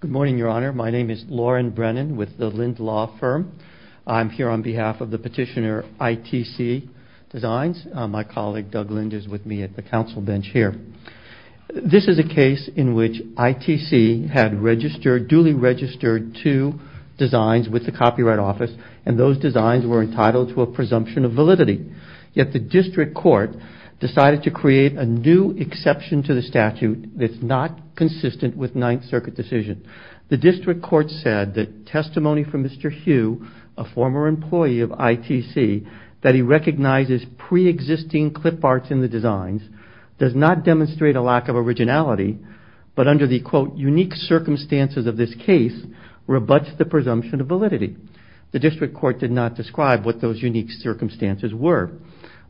Good morning, Your Honor. My name is Lauren Brennan with the Lindt Law Firm. I'm here on behalf of the petitioner ITC Designs. My colleague Doug Lindt is with me at the council bench here. This is a case in which ITC had registered, duly registered two designs with the Copyright Office, and those designs were entitled to a presumption of validity. Yet the district court decided to create a new exception to the statute that's not consistent with Ninth Circuit decision. The district court said that testimony from Mr. Hugh, a former employee of ITC, that he recognizes pre-existing clip arts in the designs does not demonstrate a lack of originality, but under the, quote, unique circumstances of this case, rebuts the presumption of validity. The district court did not describe what those unique circumstances were,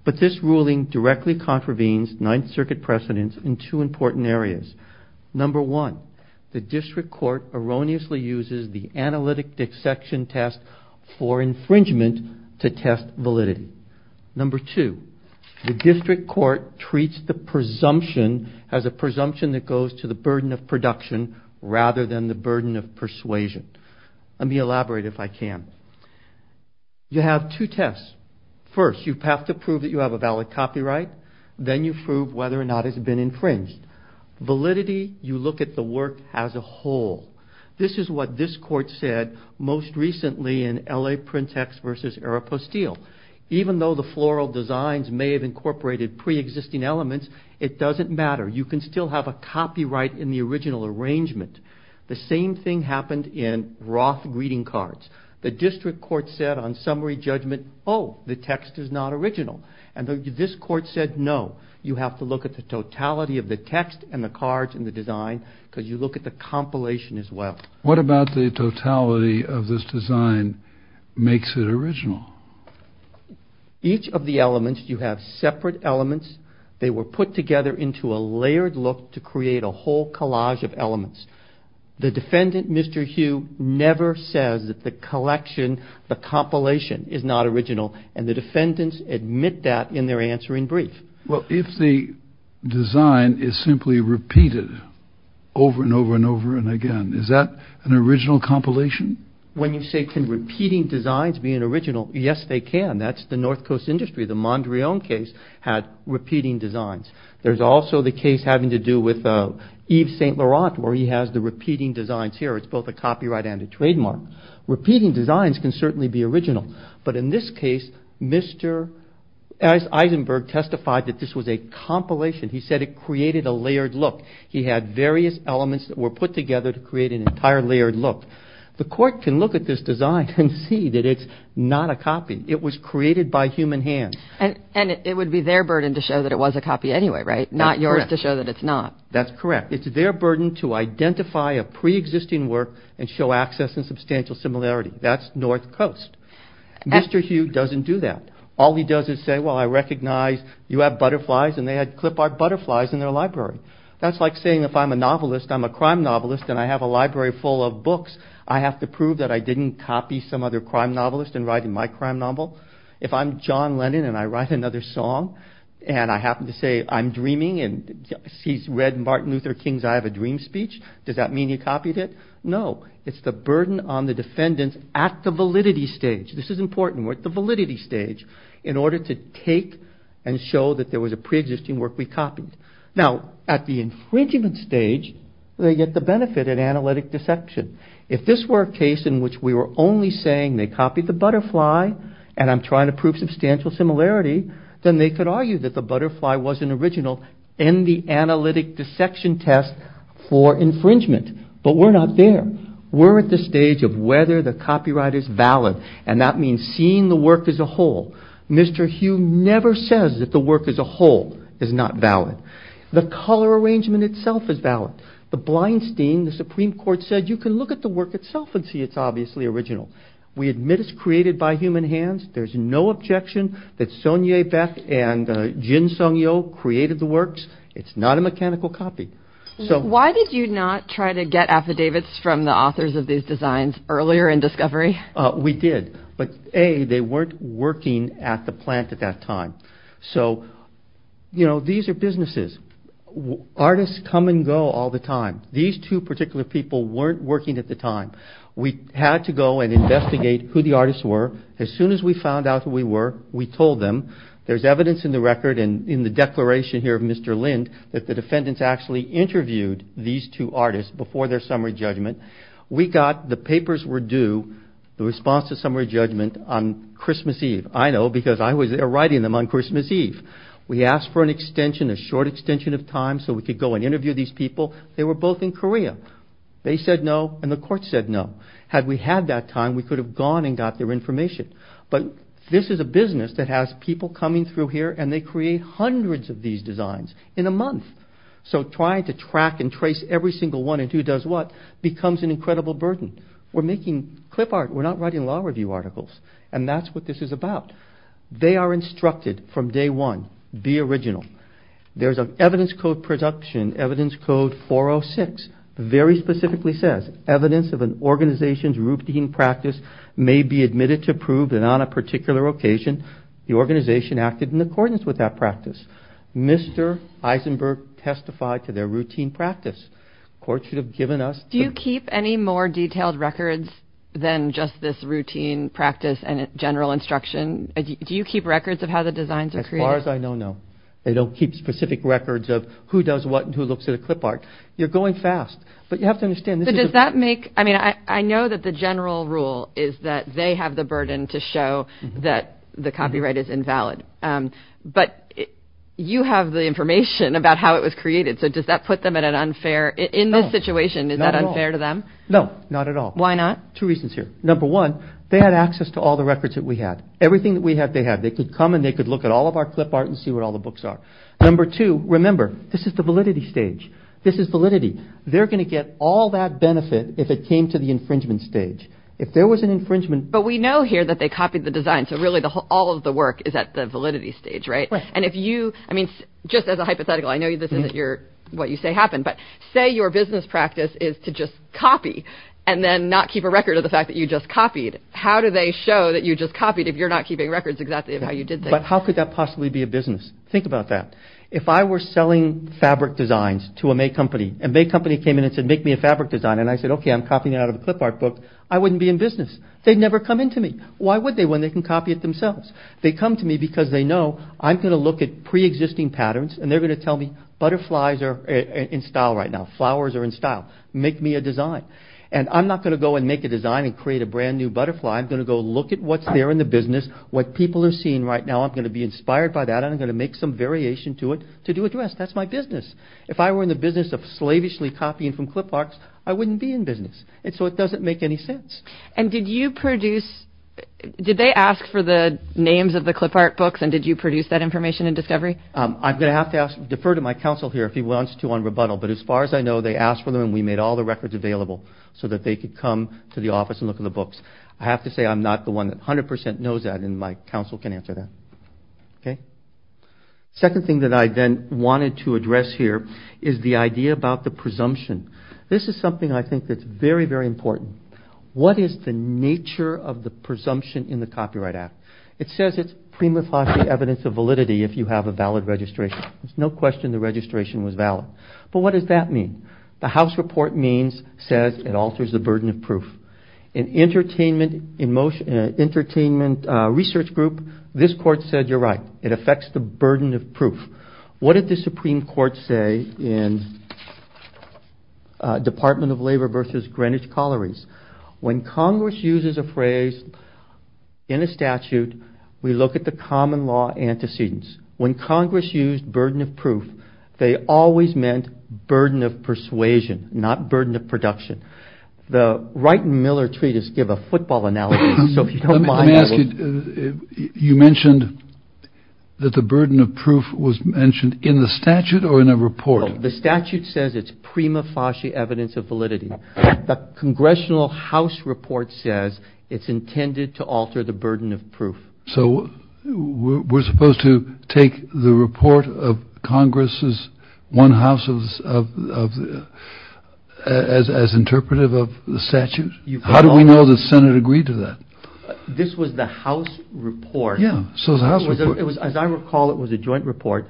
but this ruling directly contravenes Ninth Circuit precedence in two important areas. Number one, the district court erroneously uses the analytic dissection test for infringement to test validity. Number two, the district court treats the presumption as a presumption that goes to the burden of production rather than the burden of persuasion. Let me elaborate if I can. You have two tests. First, you have to prove that you have a valid copyright, then you prove whether or not it's been infringed. Validity, you look at the work as a whole. This is what this court said most recently in L.A. Print Text versus Aeropostale. Even though the floral designs may have incorporated pre-existing elements, it doesn't matter. You can still have a copyright in the original arrangement. The same thing happened in Roth greeting cards. The district court said on summary judgment, oh, the text is not original. And this court said, no, you have to look at the totality of the text and the cards and the design because you look at the compilation as well. What about the totality of this design makes it original? Each of the elements, you have separate elements. They were put together into a layered look to create a whole collage of elements. The defendant, Mr. Hugh, never says that the collection, the compilation, is not original. And the defendants admit that in their answering brief. Well, if the design is simply repeated over and over and over and again, is that an original compilation? When you say can repeating designs be an original? Yes, they can. That's the North Coast industry. The where he has the repeating designs here. It's both a copyright and a trademark. Repeating designs can certainly be original. But in this case, Mr. Eisenberg testified that this was a compilation. He said it created a layered look. He had various elements that were put together to create an entire layered look. The court can look at this design and see that it's not a copy. It was created by human hands. And it would be their burden to show that it was a copy anyway, right? Not yours to show that it's not. That's correct. It's their burden to identify a pre-existing work and show access and substantial similarity. That's North Coast. Mr. Hugh doesn't do that. All he does is say, well, I recognize you have butterflies, and they had clipart butterflies in their library. That's like saying if I'm a novelist, I'm a crime novelist, and I have a library full of books, I have to prove that I didn't copy some other crime novelist in writing my crime novel. If I'm and he's read Martin Luther King's I Have a Dream speech, does that mean he copied it? No. It's the burden on the defendants at the validity stage. This is important. We're at the validity stage in order to take and show that there was a pre-existing work we copied. Now, at the infringement stage, they get the benefit of analytic deception. If this were a case in which we were only saying they copied the butterfly, and I'm trying to prove substantial similarity, then they could argue that the butterfly wasn't original, end the analytic dissection test for infringement. But we're not there. We're at the stage of whether the copyright is valid, and that means seeing the work as a whole. Mr. Hugh never says that the work as a whole is not valid. The color arrangement itself is valid. The Blinstein, the Supreme Court, said you can look at the work itself and see it's obviously original. We admit it's created by human hands. There's no objection that Sonia Beck and Jin Sung-yo created the works. It's not a mechanical copy. So why did you not try to get affidavits from the authors of these designs earlier in discovery? We did, but A, they weren't working at the plant at that time. So, you know, these are businesses. Artists come and go all the time. These two particular people weren't working at the time. We had to go and investigate who the in the declaration here of Mr. Lind that the defendants actually interviewed these two artists before their summary judgment. We got the papers were due, the response to summary judgment on Christmas Eve. I know because I was there writing them on Christmas Eve. We asked for an extension, a short extension of time so we could go and interview these people. They were both in Korea. They said no, and the court said no. Had we had that time, we could have gone and got their hundreds of these designs in a month. So trying to track and trace every single one and two does what becomes an incredible burden. We're making clip art. We're not writing law review articles, and that's what this is about. They are instructed from day one, be original. There's an evidence code production, evidence code 406, very specifically says evidence of an organization's routine practice may be admitted to prove that on a particular occasion, the organization acted in that practice. Mr. Eisenberg testified to their routine practice. The court should have given us... Do you keep any more detailed records than just this routine practice and general instruction? Do you keep records of how the designs are created? As far as I know, no. They don't keep specific records of who does what and who looks at a clip art. You're going fast, but you have to understand... But does that make... I mean, I know that the general rule is that they have the burden to show that the copyright is invalid, but you have the information about how it was created. So does that put them at an unfair... In this situation, is that unfair to them? No, not at all. Why not? Two reasons here. Number one, they had access to all the records that we had. Everything that we had, they had. They could come and they could look at all of our clip art and see what all the books are. Number two, remember, this is the validity stage. This is validity. They're going to get all that benefit if it came to the infringement stage. If there was an infringement... But we know here that they copied the design. So really, all of the work is at the validity stage, right? And if you... I mean, just as a hypothetical, I know this isn't what you say happened, but say your business practice is to just copy and then not keep a record of the fact that you just copied. How do they show that you just copied if you're not keeping records exactly of how you did things? But how could that possibly be a business? Think about that. If I were selling fabric designs to a May Company and May Company came in and said, make me a fabric design. And I said, okay, I'm copying out of a clip art book. I wouldn't be in business. They'd never come into me. Why would they when they can copy it themselves? They come to me because they know I'm going to look at pre-existing patterns and they're going to tell me butterflies are in style right now. Flowers are in style. Make me a design. And I'm not going to go and make a design and create a brand new butterfly. I'm going to go look at what's there in the business, what people are seeing right now. I'm going to be inspired by that. I'm going to make some variation to it to do a dress. That's my business. If I were in the business of slavishly copying from clip arts, I wouldn't be in business. And so it doesn't make any sense. And did you produce, did they ask for the names of the clip art books? And did you produce that information and discovery? I'm going to have to ask, defer to my counsel here if he wants to on rebuttal. But as far as I know, they asked for them and we made all the records available so that they could come to the office and look at the books. I have to say, I'm not the one that a hundred percent knows that. And my counsel can answer that. Okay. Second thing that I then wanted to address here is the idea about the presumption. This is something I think that's very, very important. What is the nature of the presumption in the Copyright Act? It says it's prima facie evidence of validity if you have a valid registration. There's no question the registration was valid. But what does that mean? The house report means, says, it alters the burden of proof. In entertainment, in most entertainment research group, this court said, you're right. It affects the burden of proof. What did the Supreme Court say in Department of Labor versus Greenwich Collieries? When Congress uses a phrase in a statute, we look at the common law antecedents. When Congress used burden of proof, they always meant burden of persuasion, not burden of production. The Wright and Miller treatise give a football analogy. You mentioned that the burden of proof was mentioned in the statute or in a report? The statute says it's prima facie evidence of validity. The Congressional House report says it's intended to alter the burden of proof. So we're supposed to take the report of Congress's one house as interpretive of the statute? How do we know the Senate agreed to that? This was the House report. Yeah. So the House report. As I recall, it was a joint report.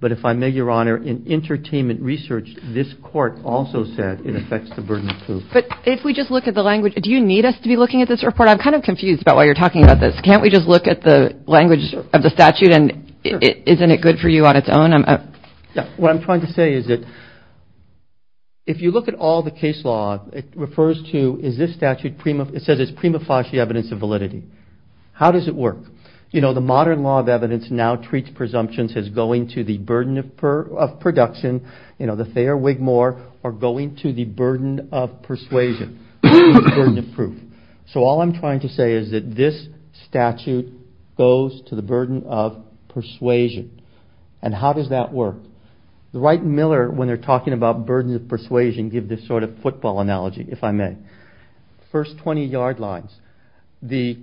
But if I may, Your Honor, in entertainment research, this court also said it affects the burden of proof. But if we just look at the language, do you need us to be looking at this report? I'm kind of confused about why you're talking about this. Can't we just look at the language of the statute and isn't it good for you on its own? What I'm trying to say is that if you look at all the case law, it refers to is this statute, it says it's prima facie evidence of validity. How does it work? The modern law of evidence now treats presumptions as going to the burden of production. The Thayer-Wigmore are going to the burden of persuasion, the burden of proof. So all I'm trying to say is that this statute goes to the burden of persuasion. And how does that work? The Wright and Miller, when they're talking about burden of persuasion, give this sort of football analogy, if I may. First 20 yard lines, the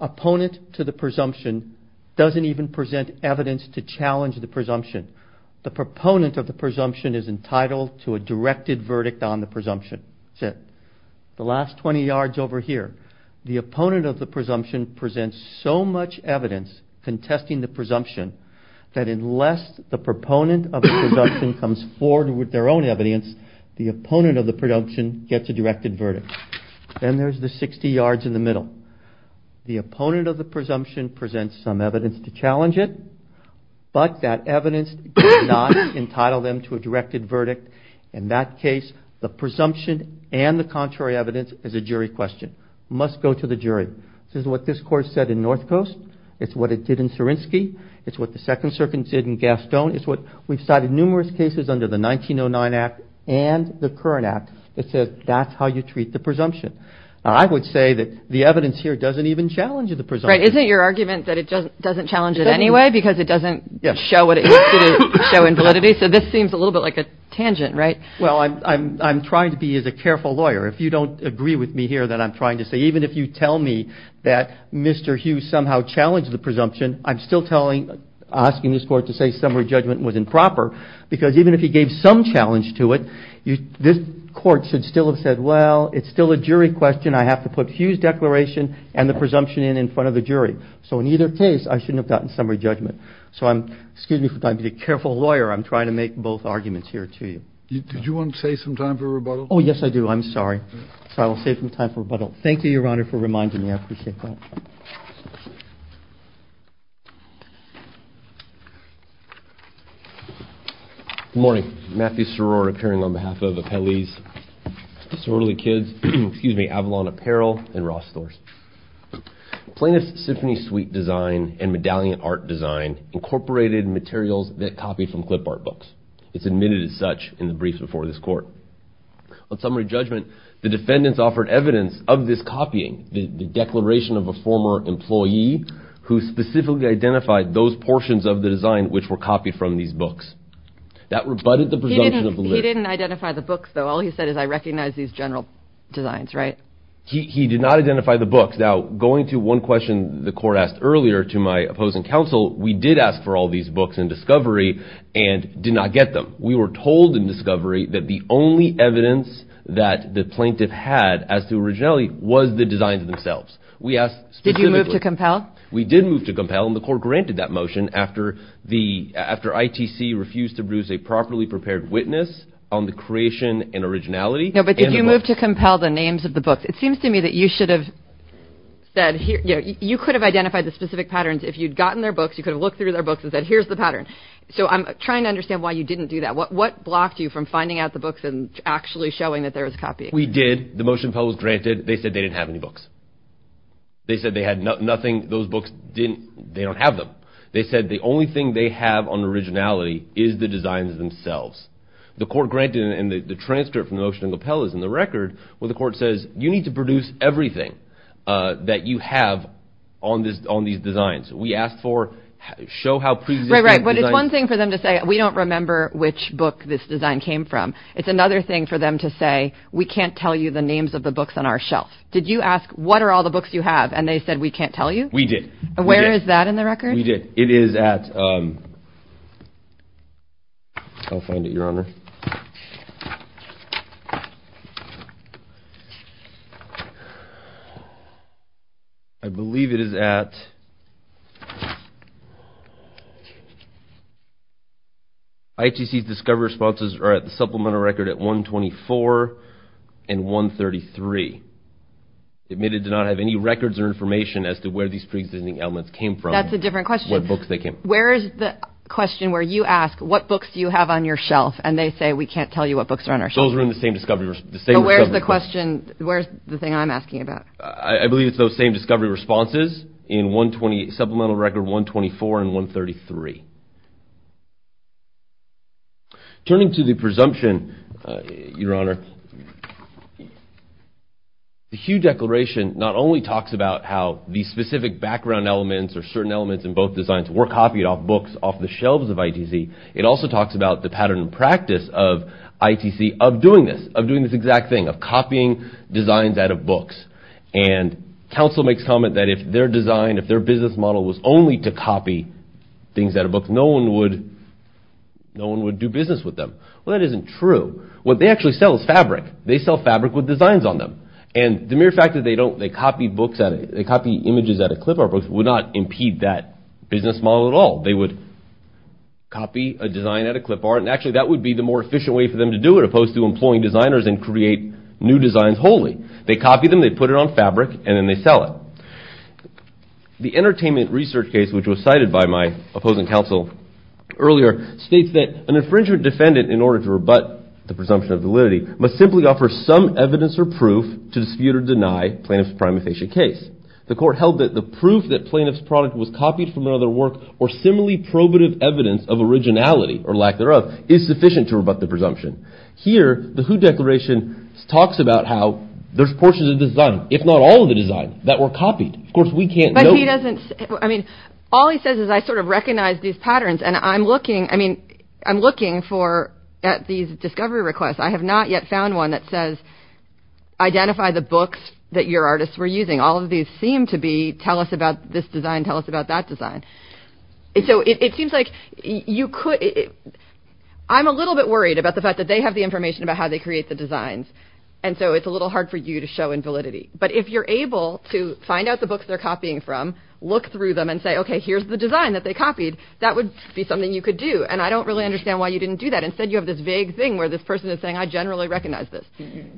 opponent to the presumption doesn't even present evidence to challenge the presumption. The proponent of the presumption is entitled to a directed verdict on the presumption. That's it. The last 20 yards over here, the opponent of the presumption presents so much evidence contesting the presumption that unless the proponent of the presumption comes forward with their own evidence, the opponent of the presumption gets a directed verdict. Then there's the 60 yards in the middle. The opponent of the presumption presents some evidence to challenge it, but that evidence does not entitle them to a directed verdict. In that case, the presumption and the contrary evidence is a jury question, must go to the jury. This is what this court said in North Coast. It's what it did in Sarinsky. It's what the Second Circuit did in Gaston. We've cited numerous cases under the 1909 Act and the current Act that says that's how you treat the presumption. I would say that the evidence here doesn't even challenge the presumption. Right. Isn't it your argument that it doesn't challenge it anyway because it doesn't show what it used to show in validity? So this seems a little bit like a tangent, right? Well, I'm trying to be as a careful lawyer. If you agree with me here that I'm trying to say, even if you tell me that Mr. Hughes somehow challenged the presumption, I'm still asking this court to say summary judgment was improper because even if he gave some challenge to it, this court should still have said, well, it's still a jury question. I have to put Hughes' declaration and the presumption in in front of the jury. So in either case, I shouldn't have gotten summary judgment. So I'm, excuse me for trying to be a careful lawyer. I'm trying to make both arguments here to you. Did you want to say some time for rebuttal? Oh, yes, I do. I'm sorry. So I will save some time for rebuttal. Thank you, Your Honor, for reminding me. I appreciate that. Good morning. Matthew Soror appearing on behalf of Appellee's Sorority Kids, excuse me, Avalon Apparel and Ross Storrs. Plaintiff's symphony suite design and medallion art design incorporated materials that copied from clip art books. It's admitted as such in the briefs before this court. On summary judgment, the defendants offered evidence of this copying, the declaration of a former employee who specifically identified those portions of the design which were copied from these books. That rebutted the presumption. He didn't identify the books, though. All he said is I recognize these general designs, right? He did not identify the books. Now, going to one question the court asked earlier to my opposing counsel, we did ask for all these books in discovery and did not get them. We were told in discovery that the only evidence that the plaintiff had as to originality was the designs themselves. We asked specifically. Did you move to compel? We did move to compel, and the court granted that motion after ITC refused to produce a properly prepared witness on the creation and originality. No, but did you move to compel the names of the books? It seems to me that you should have said, you know, you could have identified the specific patterns if you'd gotten their books. You could have looked through their books and said, here's the pattern. So I'm trying to understand why you didn't do that. What blocked you from finding out the books and actually showing that there was a copy? We did. The motion compel was granted. They said they didn't have any books. They said they had nothing. Those books didn't, they don't have them. They said the only thing they have on originality is the designs themselves. The court granted, and the transcript from the that you have on these designs. We asked for, show how pre-existing. Right, right, but it's one thing for them to say, we don't remember which book this design came from. It's another thing for them to say, we can't tell you the names of the books on our shelf. Did you ask, what are all the books you have? And they said, we can't tell you. We did. Where is that in the record? We did. It is at, I'll find it, Your Honor. I believe it is at, ITC's discovery responses are at the supplemental record at 124 and 133. Admitted to not have any records or information as to where these pre-existing elements came from. That's a different question. Where is the question where you ask, what books do you have on your shelf? And they say, we can't tell you what books are on our shelf. Those are in the same discovery. Where's the question, where's the thing I'm asking about? I believe it's those same discovery responses in 120, supplemental record 124 and 133. Turning to the presumption, Your Honor, the Hughes Declaration not only talks about how the specific background elements or certain elements in both designs were copied off books off the shelves of ITC, it also talks about the pattern and practice of ITC of doing this, of doing this exact thing, of copying designs out of books. And counsel makes comment that if their design, if their business model was only to copy things out of books, no one would, no one would do business with them. Well, that isn't true. What they actually sell is fabric. They sell fabric with designs on them. And the mere fact that they don't, they copy books, they copy images out of clip art books would not impede that business model at all. They would copy a design out of clip art, and actually that would be the more efficient way for them to do it, opposed to employing designers and create new designs wholly. They copy them, they put it on fabric, and then they sell it. The entertainment research case, which was cited by my opposing counsel earlier, states that an infringement defendant, in order to rebut the presumption of validity, must simply offer some evidence or proof to dispute or deny plaintiff's prima facie case. The court held that the proof that plaintiff's product was copied from another work or similarly probative evidence of originality, or lack thereof, is sufficient to rebut the presumption. Here, the Who Declaration talks about how there's portions of design, if not all of the design, that were copied. Of course, we can't know. But he doesn't, I mean, all he says is, I sort of recognize these patterns, and I'm looking, I mean, I'm looking for, at these discovery requests, I have not yet found one that says, identify the books that your artists were using. All of these seem to be, tell us about this design, tell us about that design. So it seems like you could, I'm a little bit worried about the fact that they have the information about how they create the designs, and so it's a little hard for you to show invalidity. But if you're able to find out the books they're copying from, look through them, and say, okay, here's the design that they copied, that would be something you could do. And I don't really understand why you didn't do that. Instead, you have this vague thing where this person is saying, I generally recognize this.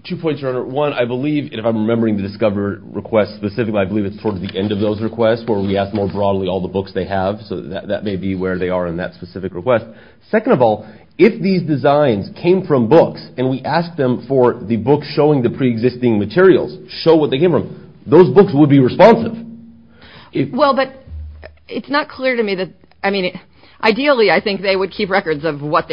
Two points, Your Honor. One, I believe, if I'm remembering the discover request specifically, I believe it's towards the end of those requests, where we ask more broadly all the books they have, so that may be where they are in that specific request. Second of all, if these designs came from books, and we asked them for the book showing the pre-existing materials, show what they came from, those books would be records of what they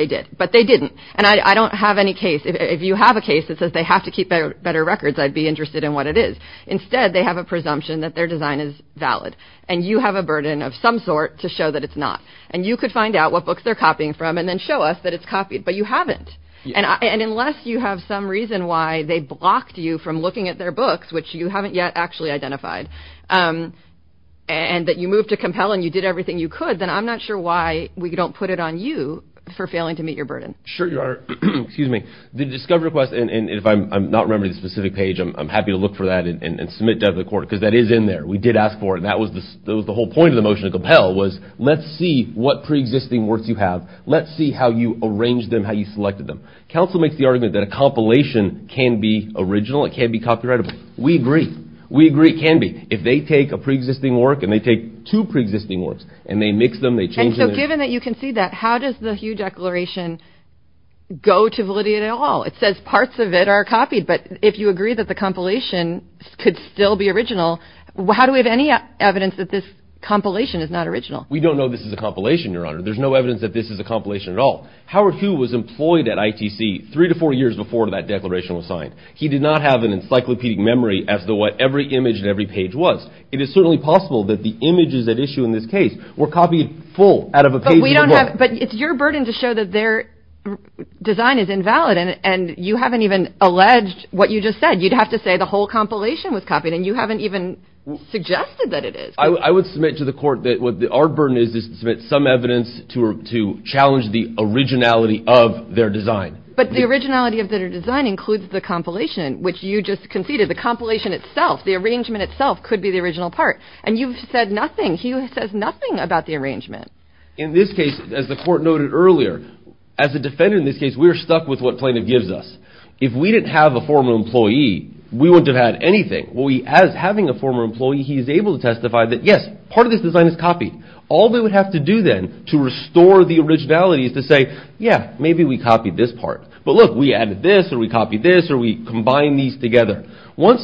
did. But they didn't. And I don't have any case, if you have a case that says they have to keep better records, I'd be interested in what it is. Instead, they have a presumption that their design is valid. And you have a burden of some sort to show that it's not. And you could find out what books they're copying from, and then show us that it's copied. But you haven't. And unless you have some reason why they blocked you from looking at their books, which you haven't yet actually identified, and that you moved to compel, and you did everything you could, then I'm not sure why we don't put it on you for failing to meet your burden. Sure, Your Honor. The discovery request, and if I'm not remembering the specific page, I'm happy to look for that and submit that to the court, because that is in there. We did ask for it, and that was the whole point of the motion to compel, was let's see what pre-existing works you have. Let's see how you arranged them, how you selected them. Counsel makes the argument that a compilation can be original, it can be copyrightable. We agree. We agree it can be. If they take a pre-existing work, and they take two pre-existing works, and they mix them, they change them. And so given that you can see that, how does the Hugh Declaration go to validity at all? It says parts of it are copied, but if you agree that the compilation could still be original, how do we have any evidence that this compilation is not original? We don't know this is a compilation, Your Honor. There's no evidence that this is a compilation at all. Howard Hugh was employed at ITC three to four years before that declaration was signed. He did not have an encyclopedic memory as to what every image and every page was. It is certainly possible that the images at issue in this case were copied full out of a page. But we don't have, but it's your burden to show that their design is invalid, and you haven't even alleged what you just said. You'd have to say the whole compilation was copied, and you haven't even suggested that it is. I would submit to the court that our burden is to submit some evidence to challenge the originality of their design. But the originality of their design includes the compilation, which you just conceded. The compilation itself, the arrangement itself, could be the original part, and you've said nothing. Hugh says nothing about the arrangement. In this case, as the court noted earlier, as a defendant in this case, we are stuck with what plaintiff gives us. If we didn't have a former employee, we wouldn't have had anything. Having a former employee, he is able to testify that, yes, part of this design is copied. All we would have to do then to restore the originality is to say, yeah, maybe we copied this part. But look, we added this, or we copied this, or we combined these together. Once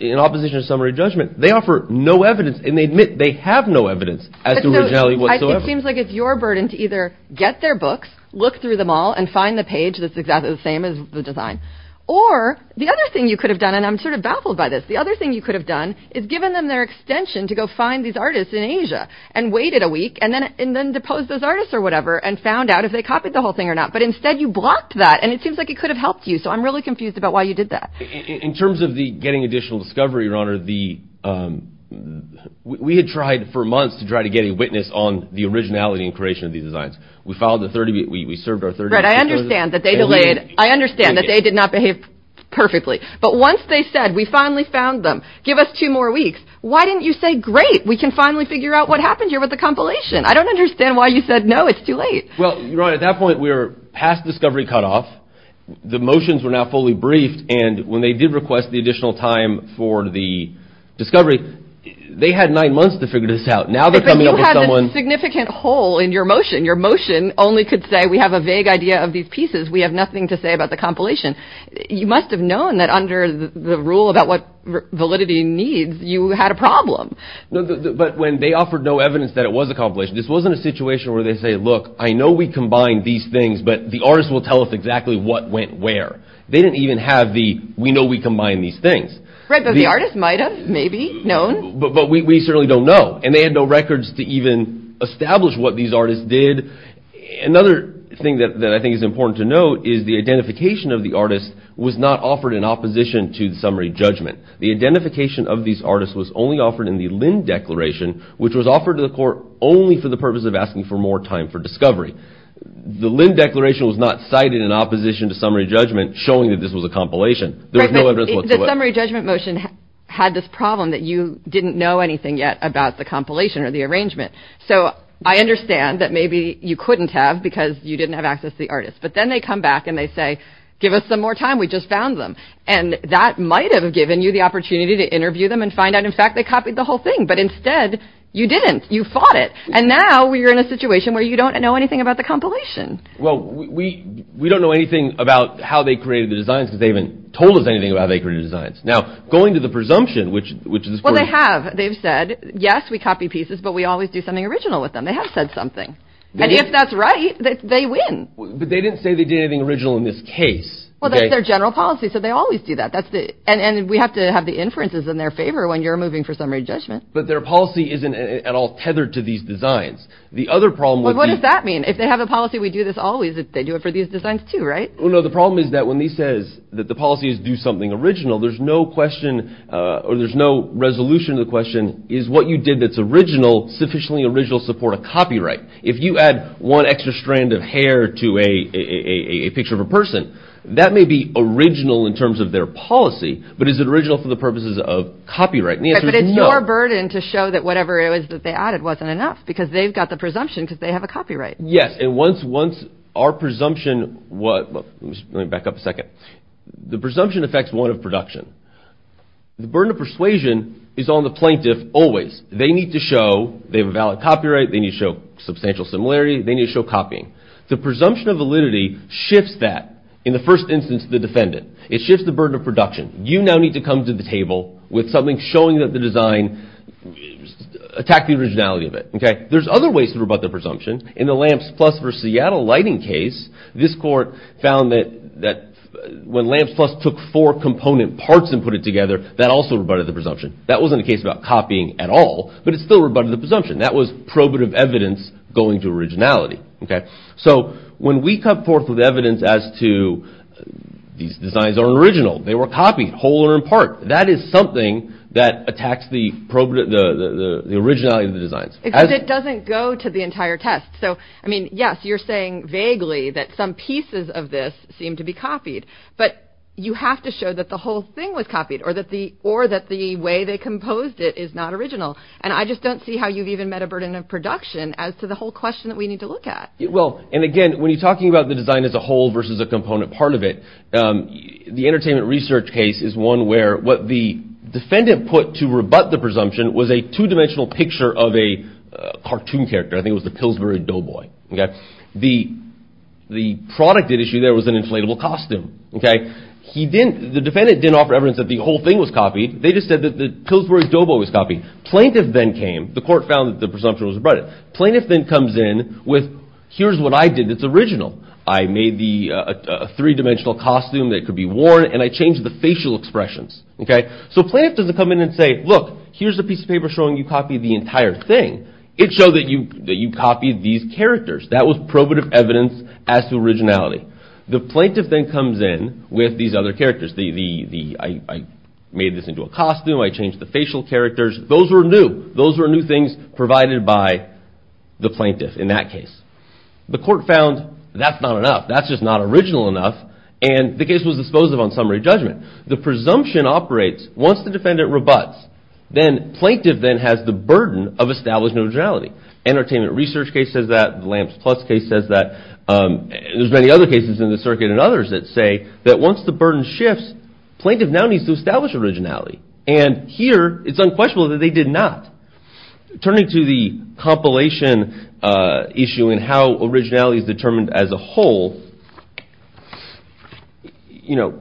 in opposition to summary judgment, they offer no evidence, and they admit they have no evidence as to originality whatsoever. It seems like it's your burden to either get their books, look through them all, and find the page that's exactly the same as the design. Or the other thing you could have done, and I'm sort of baffled by this, the other thing you could have done is given them their extension to go find these artists in Asia, and waited a week, and then deposed those artists or whatever, and found out if they copied the whole thing or not. But instead you blocked that, and it seems like it could have helped you. So I'm really confused about why you did that. In terms of the getting additional discovery, your honor, we had tried for months to try to get a witness on the originality and creation of these designs. We followed the 30, we served our 30. Right, I understand that they delayed, I understand that they did not behave perfectly. But once they said, we finally found them, give us two more weeks. Why didn't you say, great, we can finally figure out what happened here with the compilation? I don't understand why you said, no, it's too late. Well, your honor, at that point, we were past discovery cutoff. The motions were now fully briefed. And when they did request the additional time for the discovery, they had nine months to figure this out. Now they're coming up with someone... But you had a significant hole in your motion. Your motion only could say, we have a vague idea of these pieces. We have nothing to say about the compilation. You must have known that under the rule about what validity needs, you had a problem. But when they offered no evidence that it was accomplished, this wasn't a situation where they say, look, I know we combine these things, but the artist will tell us exactly what went where. They didn't even have the, we know we combine these things. Right, but the artist might have maybe known. But we certainly don't know. And they had no records to even establish what these artists did. Another thing that I think is important to note is the identification of the artist was not offered in opposition to the summary judgment. The identification of these artists was only offered in the Linn Declaration, which was offered to the court only for the purpose of asking for more time for discovery. The Linn Declaration was not cited in opposition to summary judgment showing that this was a compilation. There was no evidence whatsoever. Right, but the summary judgment motion had this problem that you didn't know anything yet about the compilation or the arrangement. So I understand that maybe you couldn't have because you didn't have access to the artist. But then they come back and they say, give us some more time. We just found them. And that might have given you the opportunity to interview them and find out. In fact, they copied the whole thing. But instead, you didn't. You fought it. And now you're in a situation where you don't know anything about the compilation. Well, we don't know anything about how they created the designs because they haven't told us anything about how they created the designs. Now, going to the presumption, which is. Well, they have. They've said, yes, we copy pieces, but we always do something original with them. They have said something. And if that's right, they win. But they didn't say they did anything original in this case. Well, their general policy said they always do that. That's it. And we have to have the inferences in their favor when you're moving for summary judgment. But their policy isn't at all tethered to these designs. The other problem with what does that mean? If they have a policy, we do this always. They do it for these designs, too, right? Well, no, the problem is that when he says that the policies do something original, there's no question or there's no resolution. The question is what you did. That's original, sufficiently original support if you add one extra strand of hair to a picture of a person that may be original in terms of their policy, but is it original for the purposes of copyright? But it's your burden to show that whatever it was that they added wasn't enough because they've got the presumption because they have a copyright. Yes. And once once our presumption was back up a second, the presumption affects one of production. The burden of persuasion is on the plaintiff. Always they need to show they have a valid copyright. They need to show substantial similarity. They need to show copying. The presumption of validity shifts that. In the first instance, the defendant. It shifts the burden of production. You now need to come to the table with something showing that the design attacked the originality of it. There's other ways to rebut the presumption. In the Lamps Plus v. Seattle lighting case, this court found that when Lamps Plus took four component parts and put it together, that also rebutted the presumption. That wasn't a case about copying at all, but it still rebutted the presumption. That was probative evidence going to originality. OK, so when we come forth with evidence as to these designs are original, they were copied whole or in part, that is something that attacks the originality of the designs. It doesn't go to the entire test. So, I mean, yes, you're saying vaguely that some pieces of this seem to be copied, but you have to show that the whole thing was copied or that the way they composed it is not original. And I just don't see how you've even met a burden of production as to the whole question that we need to look at. Well, and again, when you're talking about the design as a whole versus a component part of it, the Entertainment Research case is one where what the defendant put to rebut the presumption was a two-dimensional picture of a cartoon character. I think it was the Pillsbury Doughboy. The product at issue there was an inflatable costume. The defendant didn't offer evidence that the whole thing was copied. They just said that the Pillsbury Doughboy was copied. Plaintiff then came. The court found that the presumption was rebutted. Plaintiff then comes in with, here's what I did that's original. I made the three-dimensional costume that could be worn and I changed the facial expressions. So plaintiff doesn't come in and say, look, here's a piece of paper showing you copied the entire thing. It showed that you copied these characters. That was probative evidence as to originality. The plaintiff then comes in with these other characters. I made this into a costume. I changed the facial characters. Those were new. Those were new things provided by the plaintiff in that case. The court found that's not enough. That's just not original enough. And the case was disposed of on summary judgment. The presumption operates once the defendant rebuts. Then plaintiff has the burden of establishing originality. Entertainment Research case says that. Lamps Plus case says that. There's many other cases in the circuit and others that say that once the burden shifts, plaintiff now needs to establish originality. And here it's unquestionable that they did not. Turning to the compilation issue and how originality is determined as a whole, you know,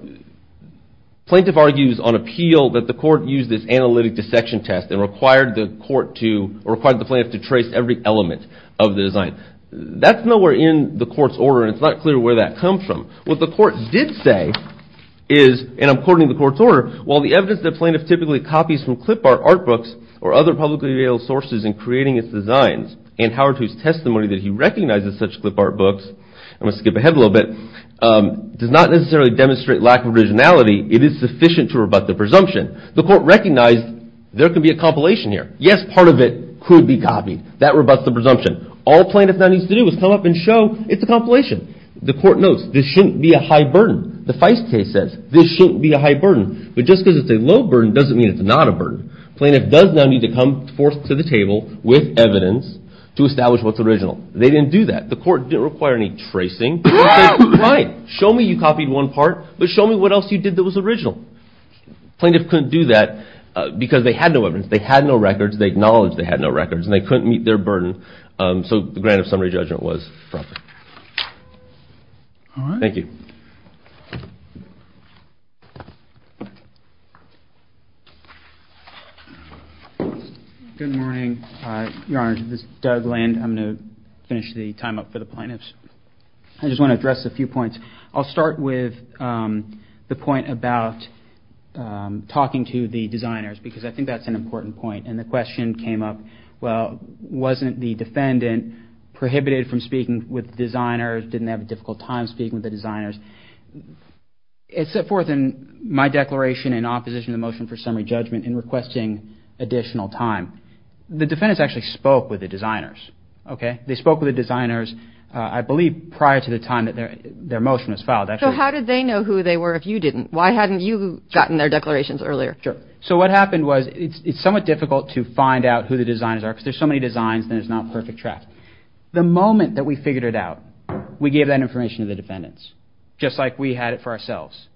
plaintiff argues on appeal that the court used this analytic dissection test and required the court to, required the plaintiff to trace every element of the design. That's nowhere in the court's order and it's not clear where that comes from. What the court did say is, and I'm quoting the court's order, while the evidence that plaintiff typically copies from clip art art books or other publicly available sources in creating its designs and Howard a little bit, does not necessarily demonstrate lack of originality. It is sufficient to rebut the presumption. The court recognized there could be a compilation here. Yes, part of it could be copied. That rebuts the presumption. All plaintiff now needs to do is come up and show it's a compilation. The court notes this shouldn't be a high burden. The Feist case says this shouldn't be a high burden. But just because it's a low burden doesn't mean it's not a burden. Plaintiff does now need to come forth to the table with evidence to establish what's original. They didn't do that. The court didn't require any tracing. Show me you copied one part, but show me what else you did that was original. Plaintiff couldn't do that because they had no evidence. They had no records. They acknowledged they had no records and they couldn't meet their burden. So the grant of summary judgment was dropped. Thank you. Good morning, Your Honor. This is Doug Land. I'm going to finish the time up for the plaintiffs. I just want to address a few points. I'll start with the point about talking to the designers because I think that's an important point. And the question came up, well, wasn't the defendant prohibited from speaking with designers? Didn't they have a difficult time speaking with the designers? It's set forth in my declaration in opposition to the motion for summary judgment in requesting additional time. The defendants actually spoke with the designers. They spoke with the designers, I believe, prior to the time that their motion was filed. So how did they know who they were if you didn't? Why hadn't you gotten their declarations earlier? Sure. So what happened was it's somewhat difficult to find out who the designers are because there's so many designs and it's not a perfect track. The moment that we figured it out, we gave that information to the defendants just like we had it for ourselves.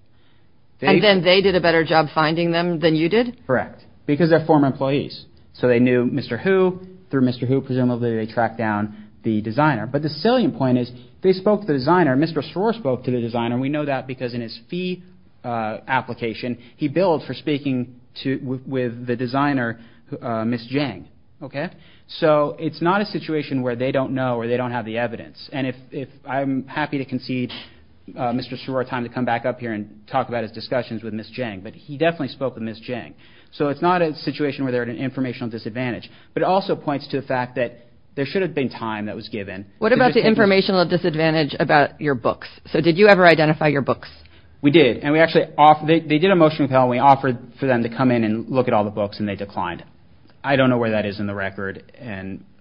And then they did a better job finding them than you did? Correct. Because they're former employees. So they knew Mr. Hu. Through Mr. Hu, presumably they tracked down the designer. But the salient point is they spoke to the designer. Mr. Soror spoke to the designer. We know that because in his fee application, he billed for speaking with the designer, Ms. Jang. So it's not a situation where they don't have the evidence. And I'm happy to concede Mr. Soror time to come back up here and talk about his discussions with Ms. Jang. But he definitely spoke with Ms. Jang. So it's not a situation where they're at an informational disadvantage. But it also points to the fact that there should have been time that was given. What about the informational disadvantage about your books? So did you ever identify your books? We did. And we actually, they did a motion with Helen. We offered for them to come in and look at all the books and they declined. I don't know where that is in the record.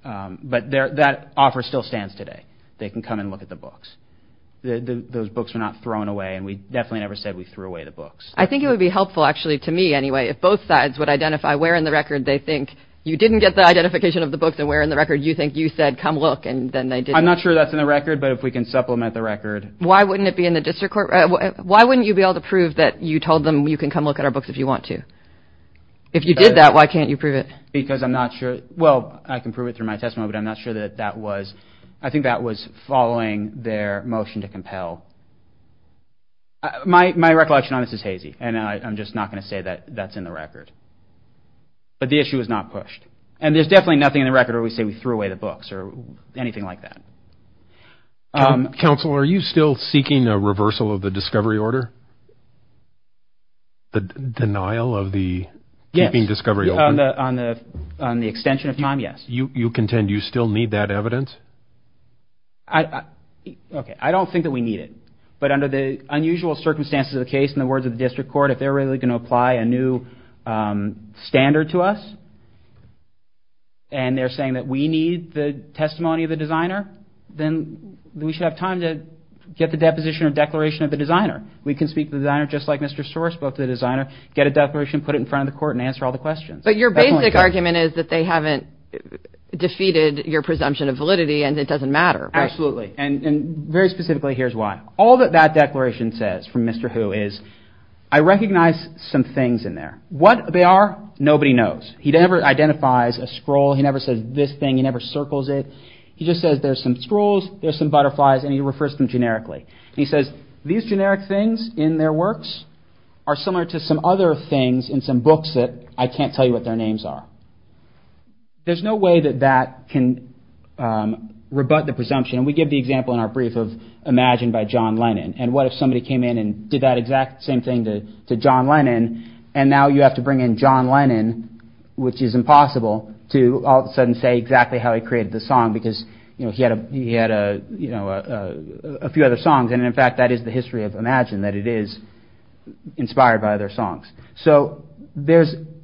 But that offer still stands today. They can come and look at the books. Those books were not thrown away. And we definitely never said we threw away the books. I think it would be helpful actually, to me anyway, if both sides would identify where in the record they think you didn't get the identification of the books and where in the record you think you said, come look. And then they did. I'm not sure that's in the record, but if we can supplement the record. Why wouldn't it be in the district court? Why wouldn't you be able to prove that you told them you can come look at our books if you want to? If you did that, why can't you prove it? Because I'm not sure. Well, I can prove it through my testimony, but I'm not sure that that was, I think that was following their motion to compel. My recollection on this is hazy, and I'm just not going to say that that's in the record. But the issue is not pushed. And there's definitely nothing in the record where we say we threw away the books or anything like that. Counsel, are you still seeking a reversal of the discovery order? The denial of the keeping of the discovery order? On the extension of time, yes. You contend you still need that evidence? Okay, I don't think that we need it. But under the unusual circumstances of the case, in the words of the district court, if they're really going to apply a new standard to us, and they're saying that we need the testimony of the designer, then we should have time to get the deposition or declaration of the designer. We can speak to the designer just like Mr. Storer spoke to the But your basic argument is that they haven't defeated your presumption of validity, and it doesn't matter. Absolutely. And very specifically, here's why. All that that declaration says from Mr. Hu is, I recognize some things in there. What they are, nobody knows. He never identifies a scroll. He never says this thing, he never circles it. He just says there's some scrolls, there's some butterflies, and he refers to them generically. He says, these generic things in their works are similar to some other things in some books that I can't tell you what their names are. There's no way that that can rebut the presumption. We give the example in our brief of Imagine by John Lennon, and what if somebody came in and did that exact same thing to John Lennon, and now you have to bring in John Lennon, which is impossible, to all of a sudden say exactly how he created the song, because he had a few other songs. And in fact, that is the history of Imagine, that it is inspired by their songs. So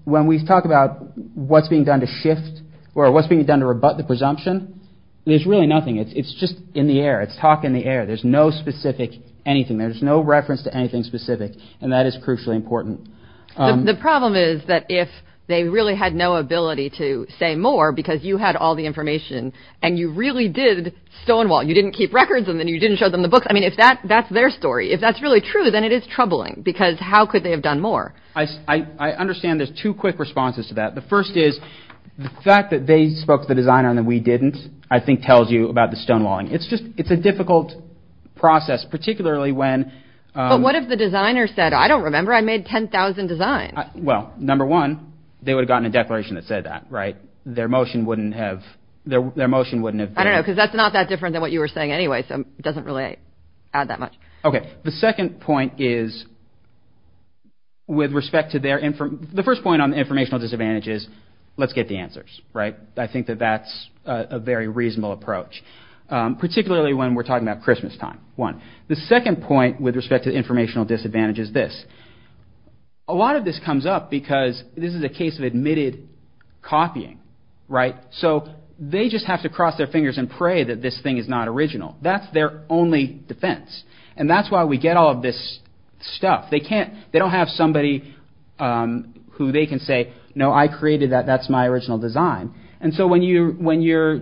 when we talk about what's being done to shift, or what's being done to rebut the presumption, there's really nothing. It's just in the air. It's talk in the air. There's no specific anything. There's no reference to anything specific. And that is crucially important. The problem is that if they really had no ability to say more, because you had all the information, and you really did Stonewall, you didn't keep records, and then you didn't show them the books. I understand there's two quick responses to that. The first is the fact that they spoke to the designer and that we didn't, I think tells you about the Stonewalling. It's just it's a difficult process, particularly when what if the designer said, I don't remember, I made 10,000 designs? Well, number one, they would have gotten a declaration that said that, right? Their motion wouldn't have their their motion wouldn't have I don't know, because that's not that different than what you were saying anyway. So it The second point is, with respect to their info, the first point on informational disadvantage is, let's get the answers, right? I think that that's a very reasonable approach, particularly when we're talking about Christmas time, one. The second point with respect to informational disadvantage is this. A lot of this comes up because this is a case of admitted copying, right? So they just have to cross their fingers and pray that this thing is not original. That's their only defense. And that's why we get all of this stuff. They can't, they don't have somebody who they can say, No, I created that. That's my original design. And so when you when you're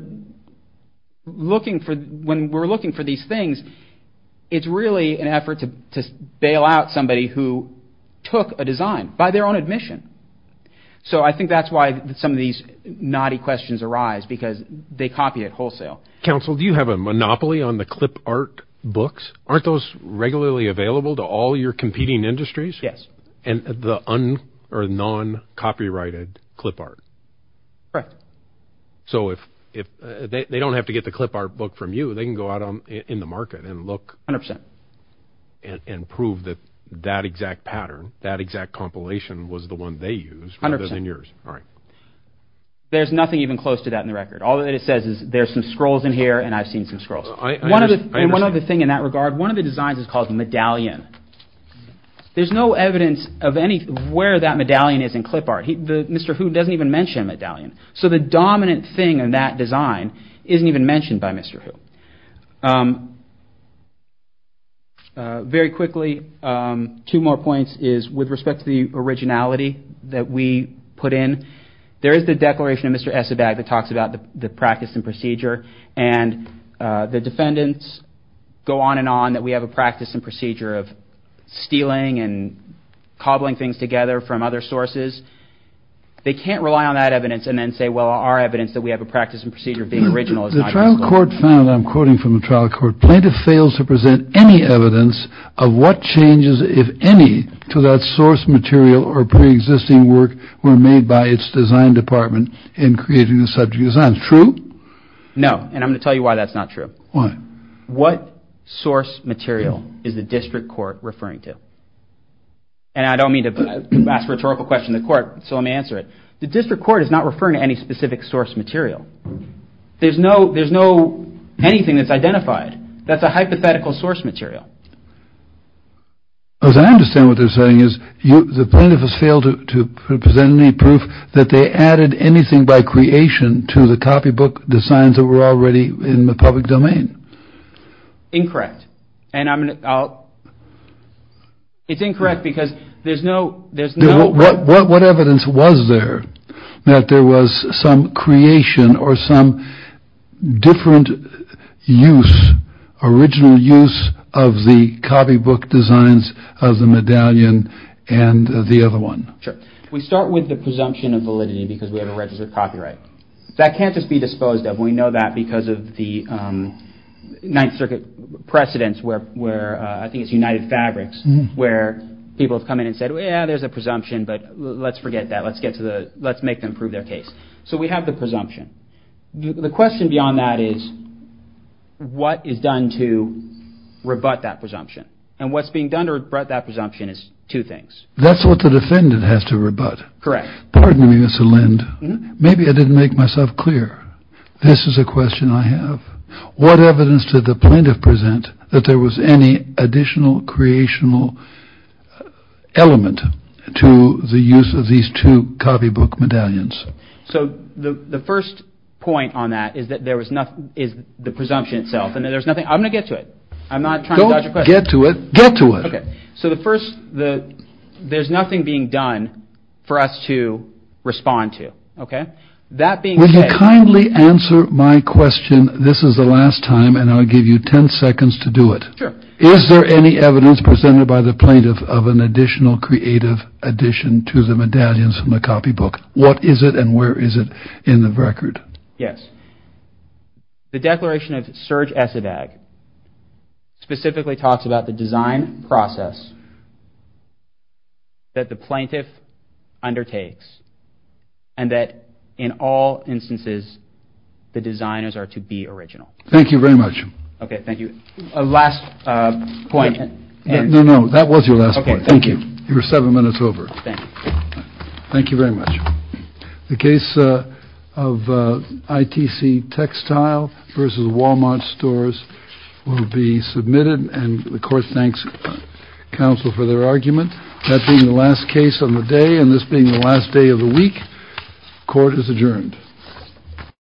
looking for when we're looking for these things, it's really an effort to bail out somebody who took a design by their own admission. So I think that's why some of these naughty questions arise, because they copy it wholesale. Council, do you have a monopoly on the clip art books? Aren't those regularly available to all your competing industries? Yes. And the un or non copyrighted clip art? Right. So if if they don't have to get the clip art book from you, they can go out on in the market and look 100% and prove that that exact pattern that exact compilation was the one they use 100 years. All right. There's nothing even close to that in the record. All that it says is there's some scrolls in here and I've seen some scrolls. One of the one of the thing in that regard, one of the designs is called the medallion. There's no evidence of any where that medallion is in clip art. Mr. Hu doesn't even mention a medallion. So the dominant thing in that design isn't even mentioned by Mr. Hu. Very There is the declaration of Mr. Esabag that talks about the practice and procedure and the defendants go on and on that we have a practice and procedure of stealing and cobbling things together from other sources. They can't rely on that evidence and then say, well, our evidence that we have a practice and procedure of being original. The trial court found, I'm quoting from the trial court, plaintiff in creating the subject design. True? No. And I'm going to tell you why that's not true. Why? What source material is the district court referring to? And I don't mean to ask rhetorical questions of court, so I may answer it. The district court is not referring to any specific source material. There's no there's no anything that's identified. That's a hypothetical source material. As I understand what they're saying is the plaintiff has failed to present any proof that they added anything by creation to the copybook designs that were already in the public domain. Incorrect. And I mean, it's incorrect because there's no there's no what what evidence was there that there was some creation or some different use, original use of the copybook designs of the medallion and the other one. Sure. We start with the presumption of validity because we have a registered copyright that can't just be disposed of. We know that because of the Ninth Circuit precedents where where I think it's United Fabrics where people have come in and said, well, yeah, there's a presumption. But let's forget that. Let's get to the let's make them prove their case. So we have the presumption. The question beyond that is what is done to rebut that presumption and what's being done to rebut that presumption is two things. That's what the defendant has to rebut. Correct. Pardon me, Mr. Lind. Maybe I didn't make myself clear. This is a question I have. What evidence did the plaintiff present that there was any additional creational element to the use of these two copybook medallions? So the first point on that is that there was nothing is the presumption itself. And there's nothing I'm going to get to it. I'm not trying to get to it. Get to it. So the first the there's nothing being done for us to respond to. Kindly answer my question. This is the last time and I'll give you 10 seconds to do it. Is there any evidence presented by the plaintiff of an additional creative addition to the medallions from the copybook? What is it and where is it in the record? Yes. The declaration of surge as it specifically talks about the design process. That the plaintiff undertakes and that in all instances, the designers are to be original. Thank you very much. OK, thank you. Last point. No, no. That was your last point. Thank you. You were seven minutes over. Thank you very much. The case of ITC textile versus Wal-Mart stores will be submitted. And of course, thanks, counsel, for their argument. That being the last case on the day and this being the last day of the week.